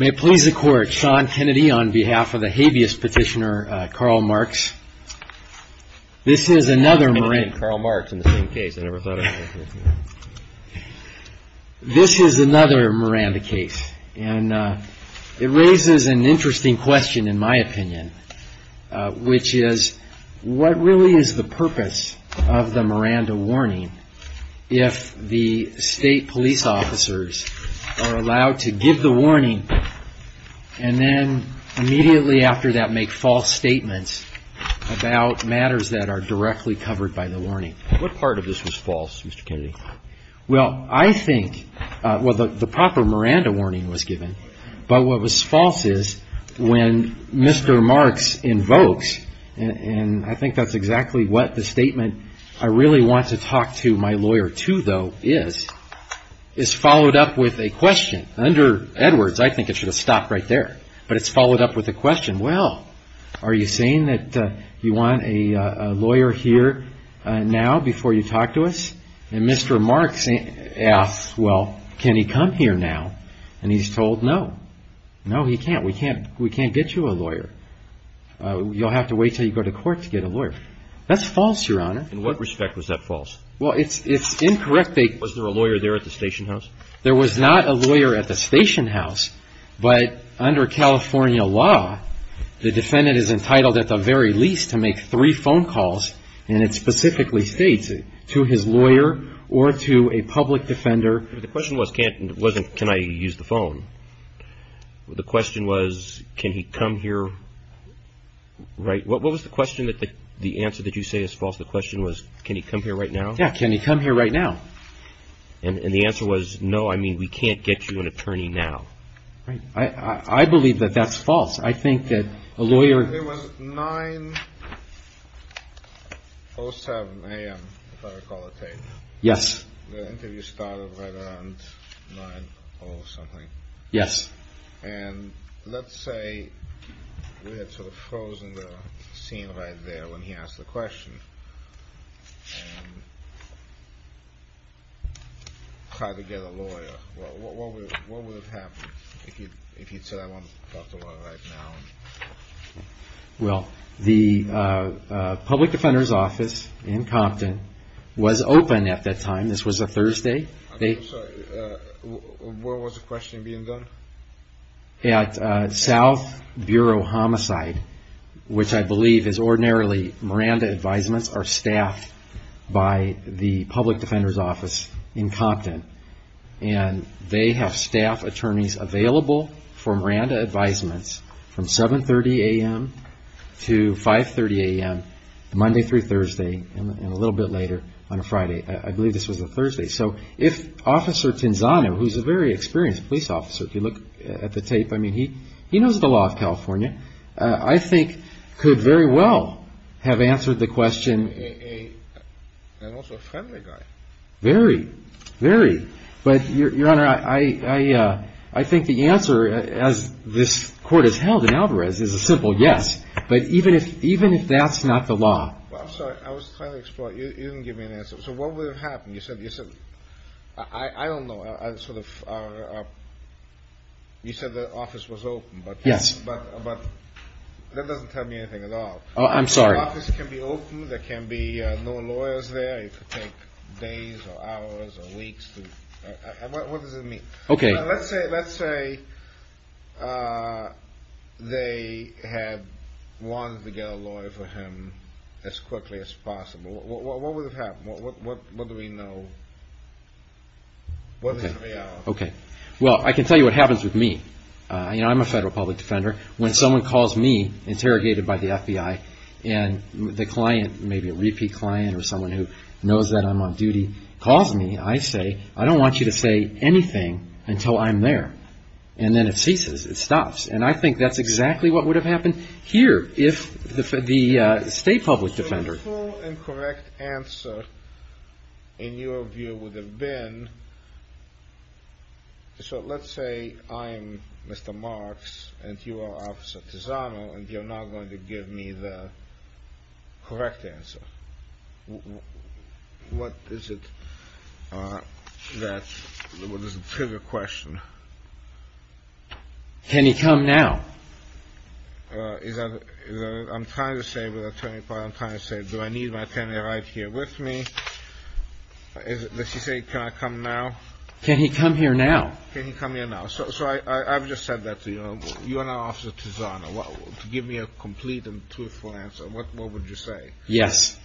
May it please the Court, Sean Kennedy on behalf of the previous petitioner, Karl Marx, this is another Miranda case, and it raises an interesting question in my opinion, which is, what really is the purpose of the Miranda warning if the petitioner that made false statements about matters that are directly covered by the warning? What part of this was false, Mr. Kennedy? Well, I think, well, the proper Miranda warning was given, but what was false is when Mr. Marx invokes, and I think that's exactly what the statement, I really want to talk to my lawyer too, though, is, is followed up with a question. Under Edwards, I think it should have stopped right there, but it's followed up with a question. Well, are you saying that you want a lawyer here now before you talk to us? And Mr. Marx asks, well, can he come here now? And he's told, no, no, he can't, we can't, we can't get you a lawyer, you'll have to wait until you go to court to get a lawyer. That's false, Your Honor. In what respect was that false? Well, it's, it's incorrect. Was there a lawyer there at the station house? There was not a lawyer at the station house, but under California law, the defendant is entitled at the very least to make three phone calls, and it specifically states it, to his lawyer or to a public defender. But the question wasn't, can I use the phone? The question was, can he come here right, what was the question that the, the answer that you say is false? The question was, can he come here right now? Yeah, can he come here right now? And the answer was, no, I mean, we can't get you an attorney now. I believe that that's false. I think that a lawyer. It was 9.07 a.m., if I recall it right, the interview started right around 9.00 something. Yes. And let's say we had sort of frozen the scene right there when he asked the question. Try to get a lawyer. What would have happened if he'd said, I want to talk to a lawyer right now? Well, the public defender's office in Compton was open at that time. This was a Thursday. I'm sorry, where was the question being done? At South Bureau Homicide, which I believe is ordinarily Miranda advisements are staffed by the public defender's office in Compton. And they have staff attorneys available for Miranda advisements from 7.30 a.m. to 5.30 a.m. Monday through Thursday, and a little bit later on a Friday. I believe this was a Thursday. So if Officer Tinzano, who's a very experienced police officer, if you look at the tape, I mean, he knows the law of California, I think could very well have answered the question and also a friendly guy. Very, very. But, Your Honor, I think the answer, as this court has held in Alvarez, is a simple yes. But even if that's not the law. Well, I'm sorry, I was trying to explore. You didn't give me an answer. So what would have happened? You said, I don't know, you said the office was open, but that doesn't tell me anything at all. I'm sorry. The office can be open, there can be no lawyers there. It could take days or hours or weeks. What does it mean? Okay. Let's say they had wanted to get a lawyer for him as quickly as possible. What would have happened? What do we know? What is the reality? Okay. Well, I can tell you what happens with me. You know, I'm a federal public defender. When someone calls me, interrogated by the FBI, and the client, maybe a repeat client or someone who knows that I'm on duty, calls me, I say, I don't want you to say anything until I'm there. And then it ceases, it stops. And I think that's exactly what would have happened here if the state public defender. The full and correct answer, in your view, would have been, so let's say I'm Mr. Marks and you are Officer Tizano, and you're not going to give me the correct answer. What is it that, what is the trigger question? Can he come now? I'm trying to say with Attorney Powell, I'm trying to say, do I need my attorney right here with me? Let's just say, can I come now? Can he come here now? Can he come here now? So I've just said that to you, you are now Officer Tizano, to give me a complete and truthful answer, what would you say? Yes.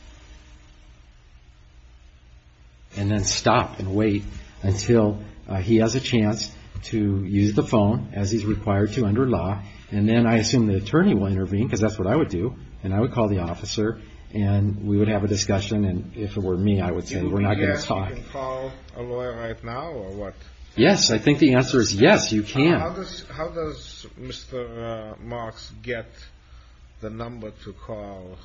And then stop and wait until he has a chance to use the phone as he's required to under law. And then I assume the attorney will intervene because that's what I would do. And I would call the officer and we would have a discussion. And if it were me, I would say, we're not going to talk. Do you think you can call a lawyer right now or what? Yes, I think the answer is yes, you can. How does Mr. Marks get the number to call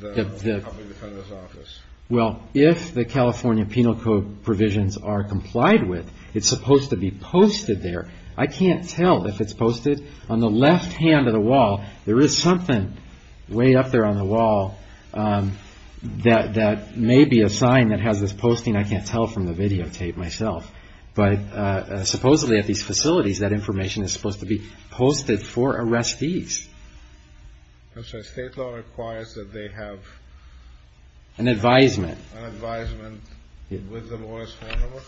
the public defender's office? Well, if the California Penal Code provisions are complied with, it's supposed to be posted there. I can't tell if it's posted on the left hand of the wall. There is something way up there on the wall that may be a sign that has this posting. I can't tell from the videotape myself. But supposedly at these facilities, that information is supposed to be posted for arrestees. And so state law requires that they have an advisement, an advisement with the lawyer's phone number?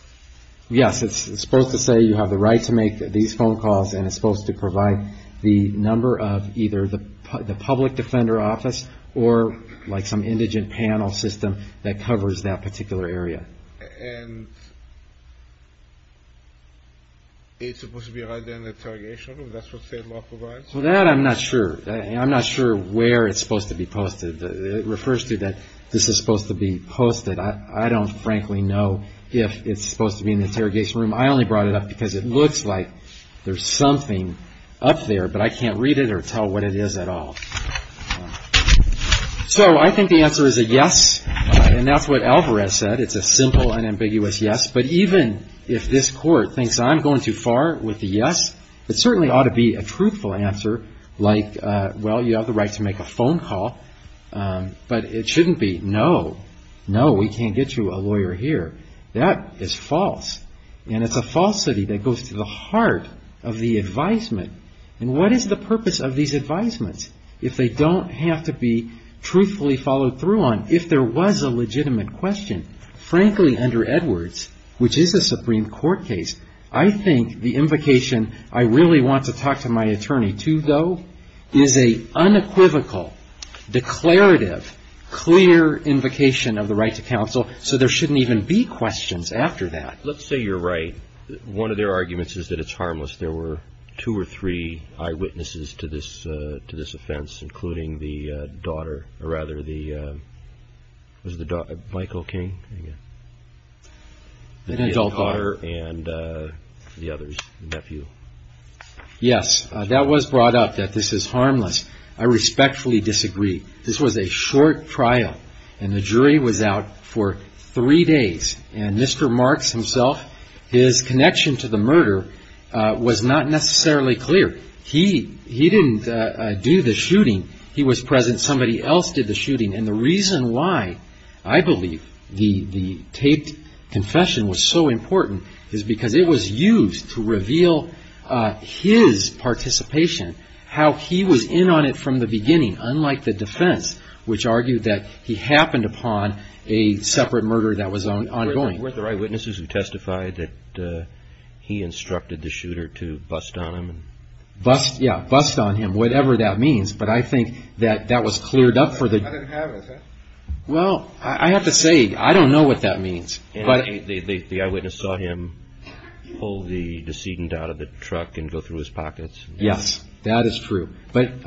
Yes, it's supposed to say you have the right to make these phone calls and it's supposed to provide the number of either the public defender office or like some indigent panel system that covers that particular area. And it's supposed to be right there in the interrogation room, that's what state law provides? Well, that I'm not sure. I'm not sure where it's supposed to be posted. It refers to that this is supposed to be posted. I don't frankly know if it's supposed to be in the interrogation room. I only brought it up because it looks like there's something up there, but I can't read it or tell what it is at all. So I think the answer is a yes. And that's what Alvarez said. It's a simple and ambiguous yes. But even if this court thinks I'm going too far with the yes, it certainly ought to be a truthful answer like, well, you have the right to make a phone call. But it shouldn't be. No, no, we can't get you a lawyer here. That is false. And it's a falsity that goes to the heart of the advisement. And what is the purpose of these advisements if they don't have to be truthfully followed through on if there was a legitimate question? Frankly, under Edwards, which is a Supreme Court case, I think the invocation I really want to talk to my attorney to go is a unequivocal, declarative, clear invocation of the right to counsel. So there shouldn't even be questions after that. Let's say you're right. One of their arguments is that it's harmless. There were two or three eyewitnesses to this to this offense, including the daughter or rather the was the Michael King, an adult daughter and the other nephew. Yes, that was brought up that this is harmless. I respectfully disagree. This was a short trial and the jury was out for three days. And Mr. Marks himself, his connection to the murder was not necessarily clear. He he didn't do the shooting. He was present. Somebody else did the shooting. And the reason why I believe the taped confession was so important is because it was used to reveal his participation, how he was in on it from the beginning. Unlike the defense, which argued that he happened upon a separate murder that was ongoing with the eyewitnesses who testified that he instructed the shooter to bust on him and bust. Yeah. Bust on him, whatever that means. But I think that that was cleared up for the. Well, I have to say, I don't know what that means, but the eyewitness saw him pull the decedent out of the truck and go through his pockets. Yes, that is true. But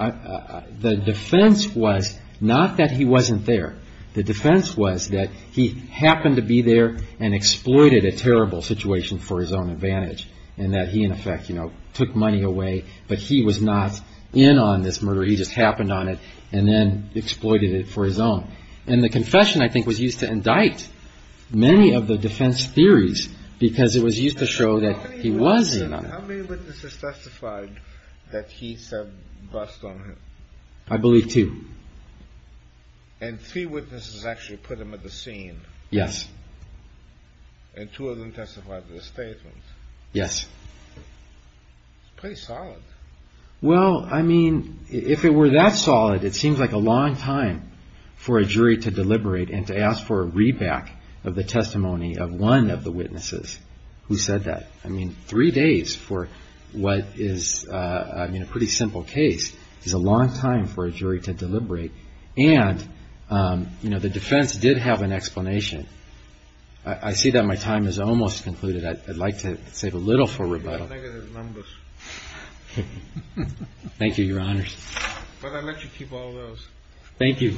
the defense was not that he wasn't there. The defense was that he happened to be there and exploited a terrible situation for his own advantage and that he, in effect, took money away. But he was not in on this murder. He just happened on it and then exploited it for his own. And the confession, I think, was used to indict many of the defense theories because it was used to show that he was in on it. How many witnesses testified that he said bust on him? I believe two. And three witnesses actually put him at the scene. Yes. And two of them testified to the statement. Yes. Pretty solid. Well, I mean, if it were that solid, it seems like a long time for a jury to deliberate and to ask for a readback of the testimony of one of the witnesses who said that. I mean, three days for what is, I mean, a pretty simple case is a long time for a jury to deliberate. And, you know, the defense did have an explanation. I see that my time is almost concluded. I'd like to save a little for rebuttal. Thank you, Your Honors. But I'll let you keep all those. Thank you.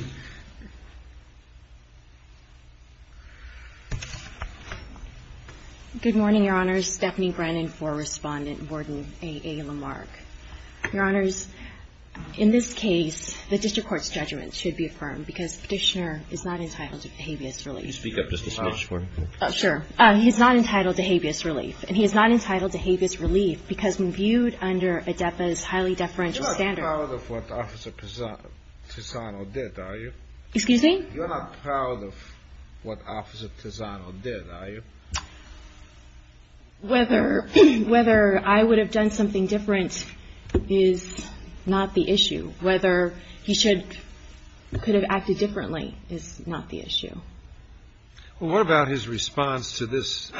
Good morning, Your Honors. Stephanie Brennan for Respondent, Warden A. A. Lamarck. Your Honors, in this case, the district court's judgment should be affirmed because Petitioner is not entitled to habeas relief. Speak up just a smidge for me. Sure. He's not entitled to habeas relief. And he is not entitled to habeas relief because when viewed under ADEPA's highly deferential standard. You're not proud of what Officer Pisano did, are you? Excuse me? You're not proud of what Officer Pisano did, are you? Whether I would have done something different is not the issue. Whether he could have acted differently is not the issue. Well, what about his response to this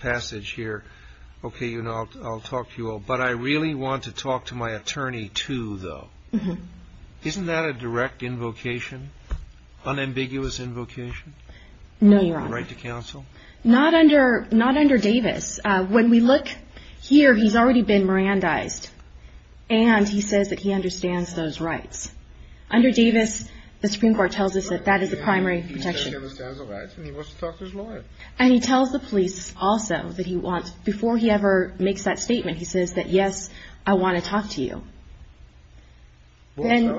passage here? OK, you know, I'll talk to you all. But I really want to talk to my attorney, too, though. Isn't that a direct invocation? Unambiguous invocation? No, Your Honor. Right to counsel? Not under Davis. When we look here, he's already been Mirandized. And he says that he understands those rights. Under Davis, the Supreme Court tells us that that is the primary protection. He understands the rights and he wants to talk to his lawyer. And he tells the police also that he wants, before he ever makes that statement, he says that, yes, I want to talk to you. And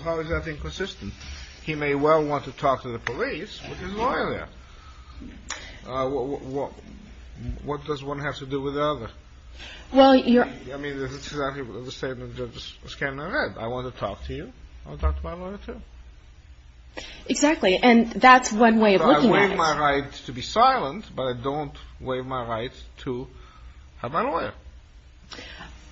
how is that inconsistent? He may well want to talk to the police with his lawyer there. What does one have to do with the other? Well, I mean, this is exactly the same as the Scandinavian Red. I want to talk to you. I want to talk to my lawyer, too. Exactly. And that's one way of looking at it. I waive my right to be silent, but I don't waive my right to have my lawyer.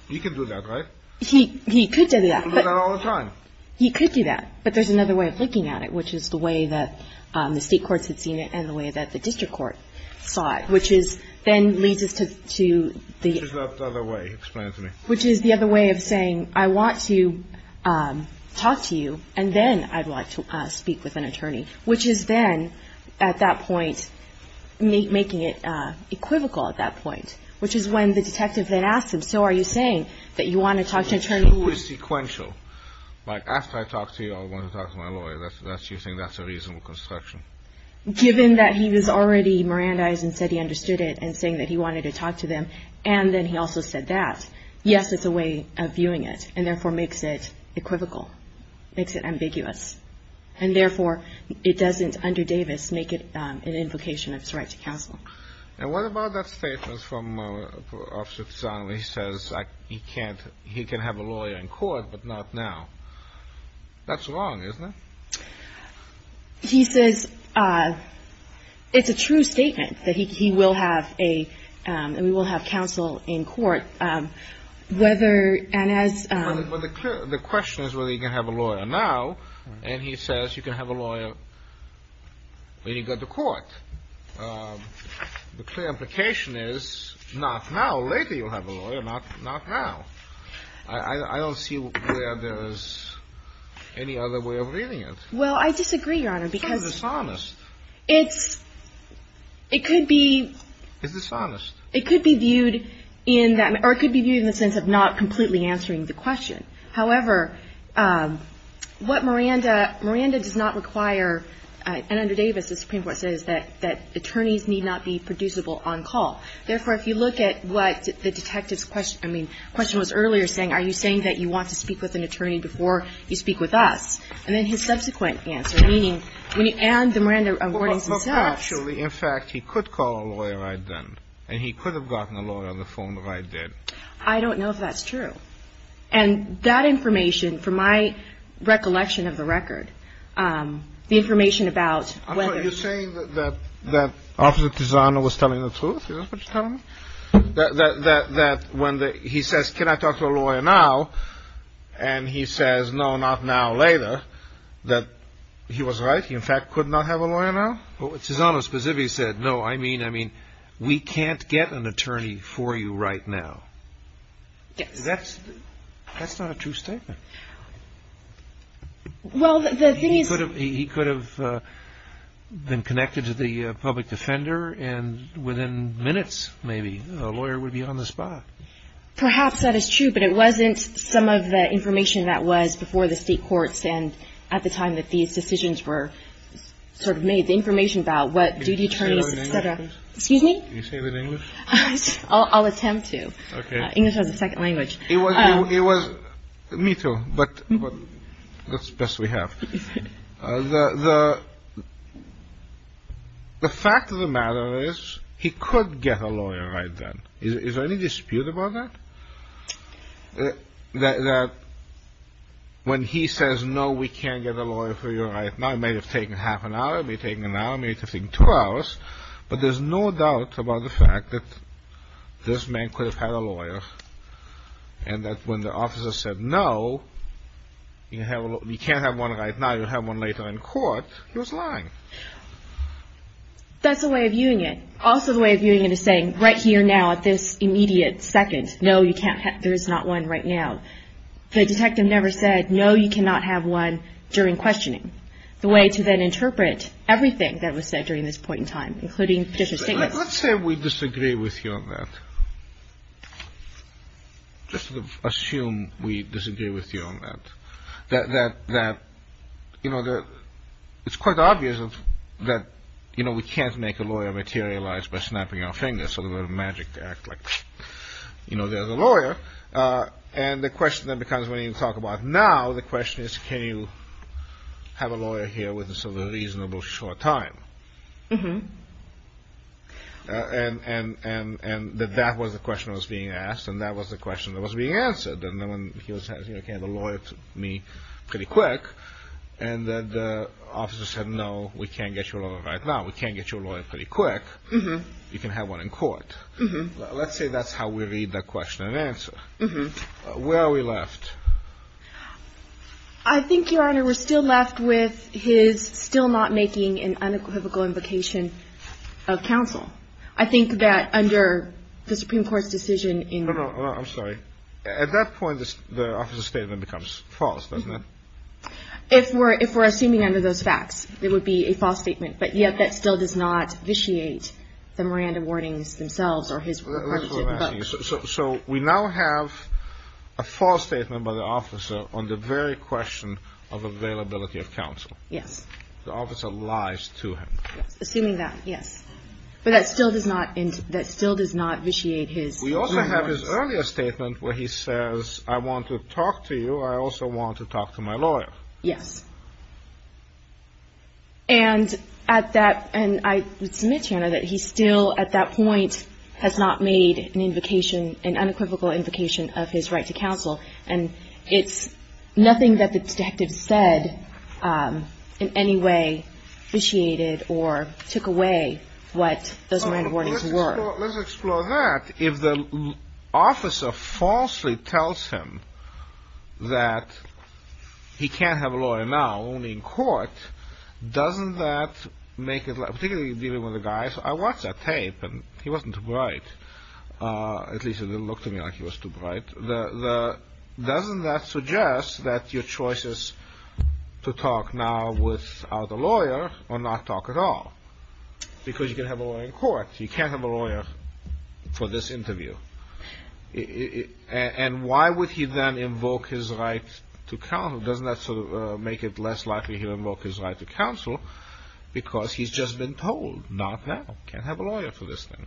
You can do that, right? He could do that. I do that all the time. He could do that. But there's another way of looking at it, which is the way that the state courts had seen it and the way that the district court saw it, which is then leads us to the other way. Which is the other way of saying, I want to talk to you and then I'd like to speak with an attorney, which is then at that point making it equivocal at that point, which is when the detective then asked him, so are you saying that you want to talk to an attorney who is sequential? Like after I talk to you, I want to talk to my lawyer. That's that's you think that's a reasonable construction? Given that he was already Mirandized and said he understood it and saying that he wanted to talk to them. And then he also said that, yes, it's a way of viewing it and therefore makes it equivocal, makes it ambiguous. And therefore, it doesn't under Davis make it an invocation of his right to counsel. And what about that statement from Officer Zong where he says he can't he can have a lawyer in court, but not now? That's wrong, isn't it? He says it's a true statement that he will have a and we will have counsel in court whether and as the question is whether you can have a lawyer now. And he says you can have a lawyer. When you go to court, the clear implication is not now. Later, you'll have a lawyer, not not now. I don't see where there is any other way of reading it. Well, I disagree, Your Honor, because it's it could be dishonest. It could be viewed in that or it could be viewed in the sense of not completely answering the question. However, what Miranda Miranda does not require and under Davis, the Supreme Court says that that attorneys need not be producible on call. Therefore, if you look at what the detective's question I mean, the question was earlier saying, are you saying that you want to speak with an attorney before you speak with us? And then his subsequent answer, meaning when you add the Miranda awarding himself, actually, in fact, he could call a lawyer right then and he could have gotten a lawyer on the phone if I did. I don't know if that's true. And that information, for my recollection of the record, the information about whether you're saying that that that officer was telling the truth, that that that when he says, can I talk to a lawyer now? And he says, no, not now, later that he was right. He, in fact, could not have a lawyer. Now, which is on a specific said, no, I mean, I mean, we can't get an attorney for you right now. Yes, that's that's not a true statement. Well, the thing is, he could have been connected to the public defender and within minutes, maybe a lawyer would be on the spot. Perhaps that is true, but it wasn't some of the information that was before the state courts. And at the time that these decisions were sort of made, the information about what duty attorneys said, excuse me, you say that English, I'll attempt to. English has a second language. It was it was me, too. But that's best we have the. The fact of the matter is he could get a lawyer right then. Is there any dispute about that? That when he says, no, we can't get a lawyer for you right now, I may have taken half an hour, be taking an hour, maybe two hours. But there's no doubt about the fact that this man could have had a lawyer and that when the officer said, no, you can't have one right now. You'll have one later in court. He was lying. That's the way of viewing it. Also, the way of viewing it is saying right here now at this immediate second, no, you can't. There is not one right now. The detective never said, no, you cannot have one during questioning the way to then interpret everything that was said during this point in time. Including just a statement. Let's say we disagree with you on that. Just assume we disagree with you on that, that that that, you know, that it's quite obvious that, you know, we can't make a lawyer materialize by snapping our fingers. So the magic to act like, you know, there's a lawyer. And the question that becomes when you talk about now, the question is, can you have a lawyer here with a reasonable short time? And, and, and, and that that was the question that was being asked and that was the question that was being answered. And then when he was having a lawyer, me pretty quick and the officer said, no, we can't get you a lawyer right now. We can't get you a lawyer pretty quick. You can have one in court. Let's say that's how we read that question and answer. Where are we left? I think your honor, we're still left with his still not making an unequivocal invocation of counsel. I think that under the Supreme Court's decision in, I'm sorry, at that point, the statement becomes false. If we're, if we're assuming under those facts, it would be a false statement, but yet that still does not vitiate the Miranda warnings themselves or his. So, so we now have a false statement by the officer on the very question of availability of counsel. Yes. The officer lies to him. Assuming that, yes. But that still does not, that still does not vitiate his. We also have his earlier statement where he says, I want to talk to you. I also want to talk to my lawyer. Yes. And at that, and I would submit to you that he's still at that point has not made an invocation, an unequivocal invocation of his right to counsel. And it's nothing that the detective said in any way vitiated or took away what those Miranda warnings were. Let's explore that. If the officer falsely tells him that he can't have a lawyer now, only in court, doesn't that make it, particularly dealing with a guy, I watched that tape and he wasn't too bright, at least it didn't look to me like he was too bright. The, the, doesn't that suggest that your choice is to talk now without a lawyer or not talk at all? Because you can have a lawyer in court. You can't have a lawyer for this interview. And why would he then invoke his right to counsel? Doesn't that sort of make it less likely he'll invoke his right to counsel because he's just been told not now, can't have a lawyer for this thing.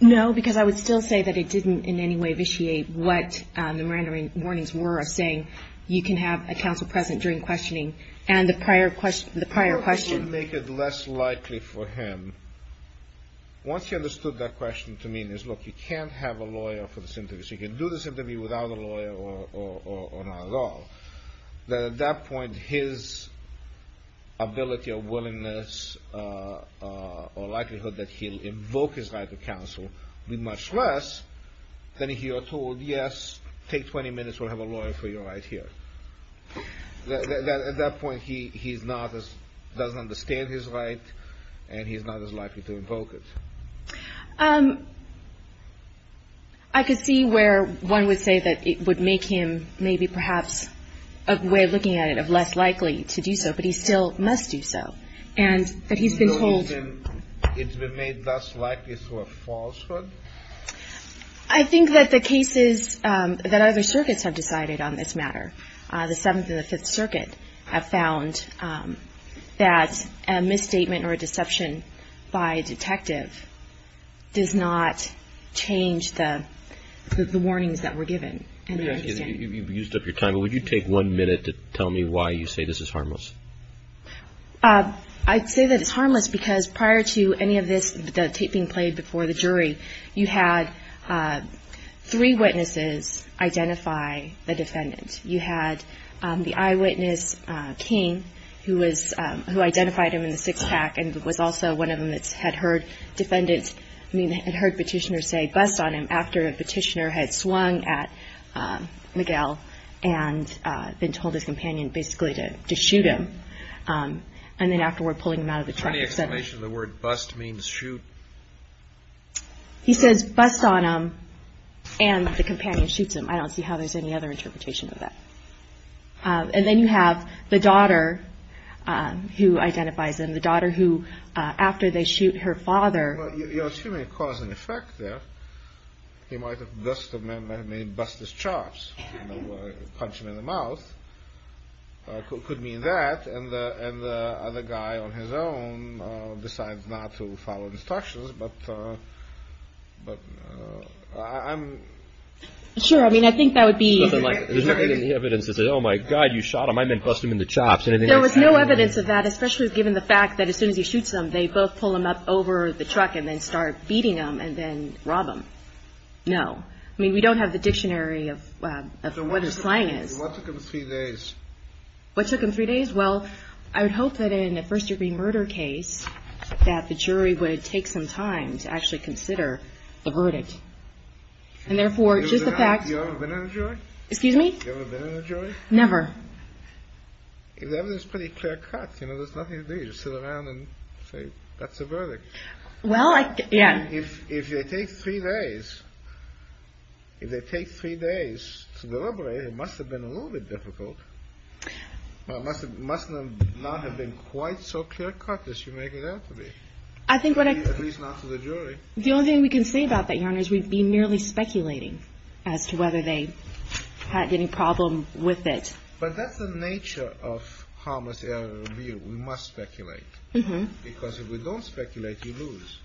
No, because I would still say that it didn't in any way vitiate what the Miranda warnings were of saying you can have a counsel present during questioning and the prior question, the prior question. Doesn't that make it less likely for him, once he understood that question to mean is, look, you can't have a lawyer for this interview, so you can do this interview without a lawyer or not at all, that at that point his ability or willingness or likelihood that he'll invoke his right to counsel will be much less than if you are told, yes, take 20 minutes, we'll have a lawyer for you right here. At that point, he's not as, doesn't understand his right and he's not as likely to invoke it. I could see where one would say that it would make him maybe perhaps a way of looking at it of less likely to do so, but he still must do so. And that he's been told. It's been made less likely through a falsehood? I think that the cases that other circuits have decided on this matter. The Seventh and the Fifth Circuit have found that a misstatement or a deception by a detective does not change the warnings that were given. And you've used up your time. Would you take one minute to tell me why you say this is harmless? I'd say that it's harmless because prior to any of this tape being played before the jury, you had three witnesses identify the defendant. You had the eyewitness, King, who was, who identified him in the six pack and was also one of them that had heard defendants, I mean, had heard Petitioner say bust on him after Petitioner had swung at Miguel and then told his companion basically to shoot him. And then afterward, pulling him out of the truck. Is there any explanation of the word bust means shoot? He says bust on him and the companion shoots him. I don't see how there's any other interpretation of that. And then you have the daughter who identifies him, the daughter who, after they shoot her father, you're assuming a cause and effect there. He might have busted him in the mouth, could mean that. And the other guy on his own decides not to follow instructions. But I'm sure. I mean, I think that would be the evidence is, oh, my God, you shot him. I mean, bust him in the chops. And there was no evidence of that, especially given the fact that as soon as he shoots him, they both pull him up over the truck and then start beating him and then rob him. No, I mean, we don't have the dictionary of what is flying is what took him three days. What took him three days? Well, I would hope that in the first degree murder case that the jury would take some time to actually consider the verdict. And therefore, just the fact you're going to excuse me, you're going to never. If that was pretty clear cut, you know, there's nothing to do to sit around and say that's a verdict. Well, yeah, if if you take three days, if they take three days to deliberate, it must have been a little bit difficult. Well, it must have must not have been quite so clear cut as you make it out to be, I think, at least not to the jury. The only thing we can say about that, your honor, is we'd be merely speculating as to whether they had any problem with it. But that's the nature of how much we must speculate, because if we don't speculate, you lose.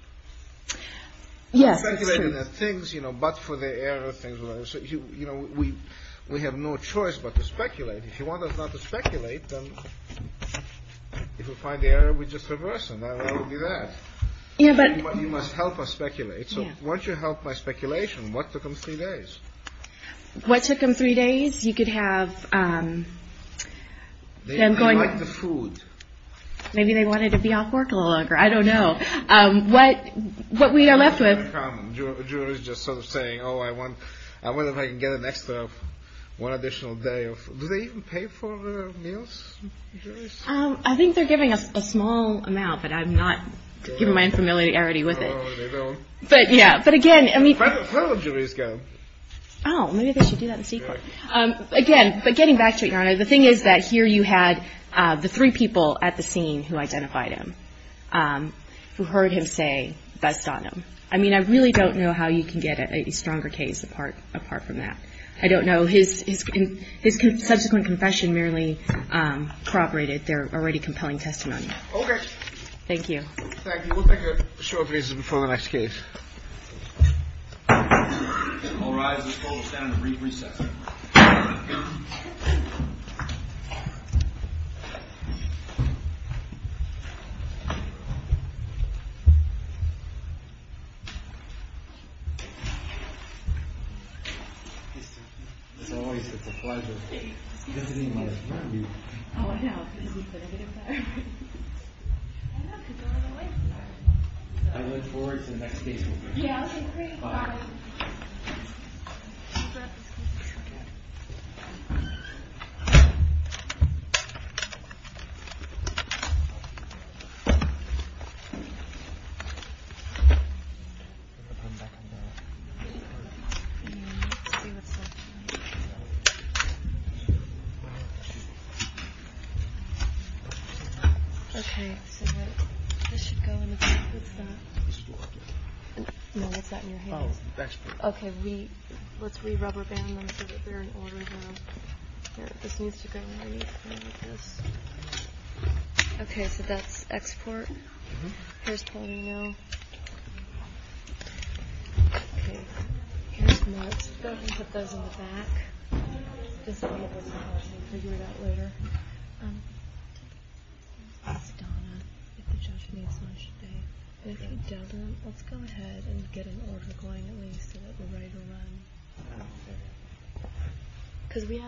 Yes, things, you know, but for the error of things, you know, we we have no choice but to speculate. If you want us not to speculate, then if we find the error, we just reverse and that would be that. Yeah, but you must help us speculate. So once you help my speculation, what took them three days? What took them three days? You could have them going to the food. Maybe they wanted to be off work a little longer. I don't know what what we are left with. Jury's just sort of saying, oh, I want I wonder if I can get an extra one additional day. Do they even pay for meals? I think they're giving us a small amount, but I'm not giving my infamiliarity with it. But yeah. But again, I mean, I don't know. Maybe they should do that in secret again. But getting back to it, your honor, the thing is that here you had the three people at the scene who identified him, who heard him say best on him. I mean, I really don't know how you can get a stronger case apart apart from that. I don't know. His his subsequent confession merely corroborated their already compelling testimony. OK. Thank you. Thank you. We'll take a short recess before the next case. All rise and stand and recess. As always, it's a pleasure to be with you. Oh, I know. I look forward to the next case. Yeah. I'm back. OK, so this should go in. What's that? No, it's not. Oh, OK. We let's we rubber band. I'm sure that they're in order. This needs to go. OK, so that's export. There's plenty, you know. Go ahead and put those in the back. This is later. I don't know if the Japanese should be. If he doesn't, let's go ahead and get an order going at least. So that we're ready to run because we have.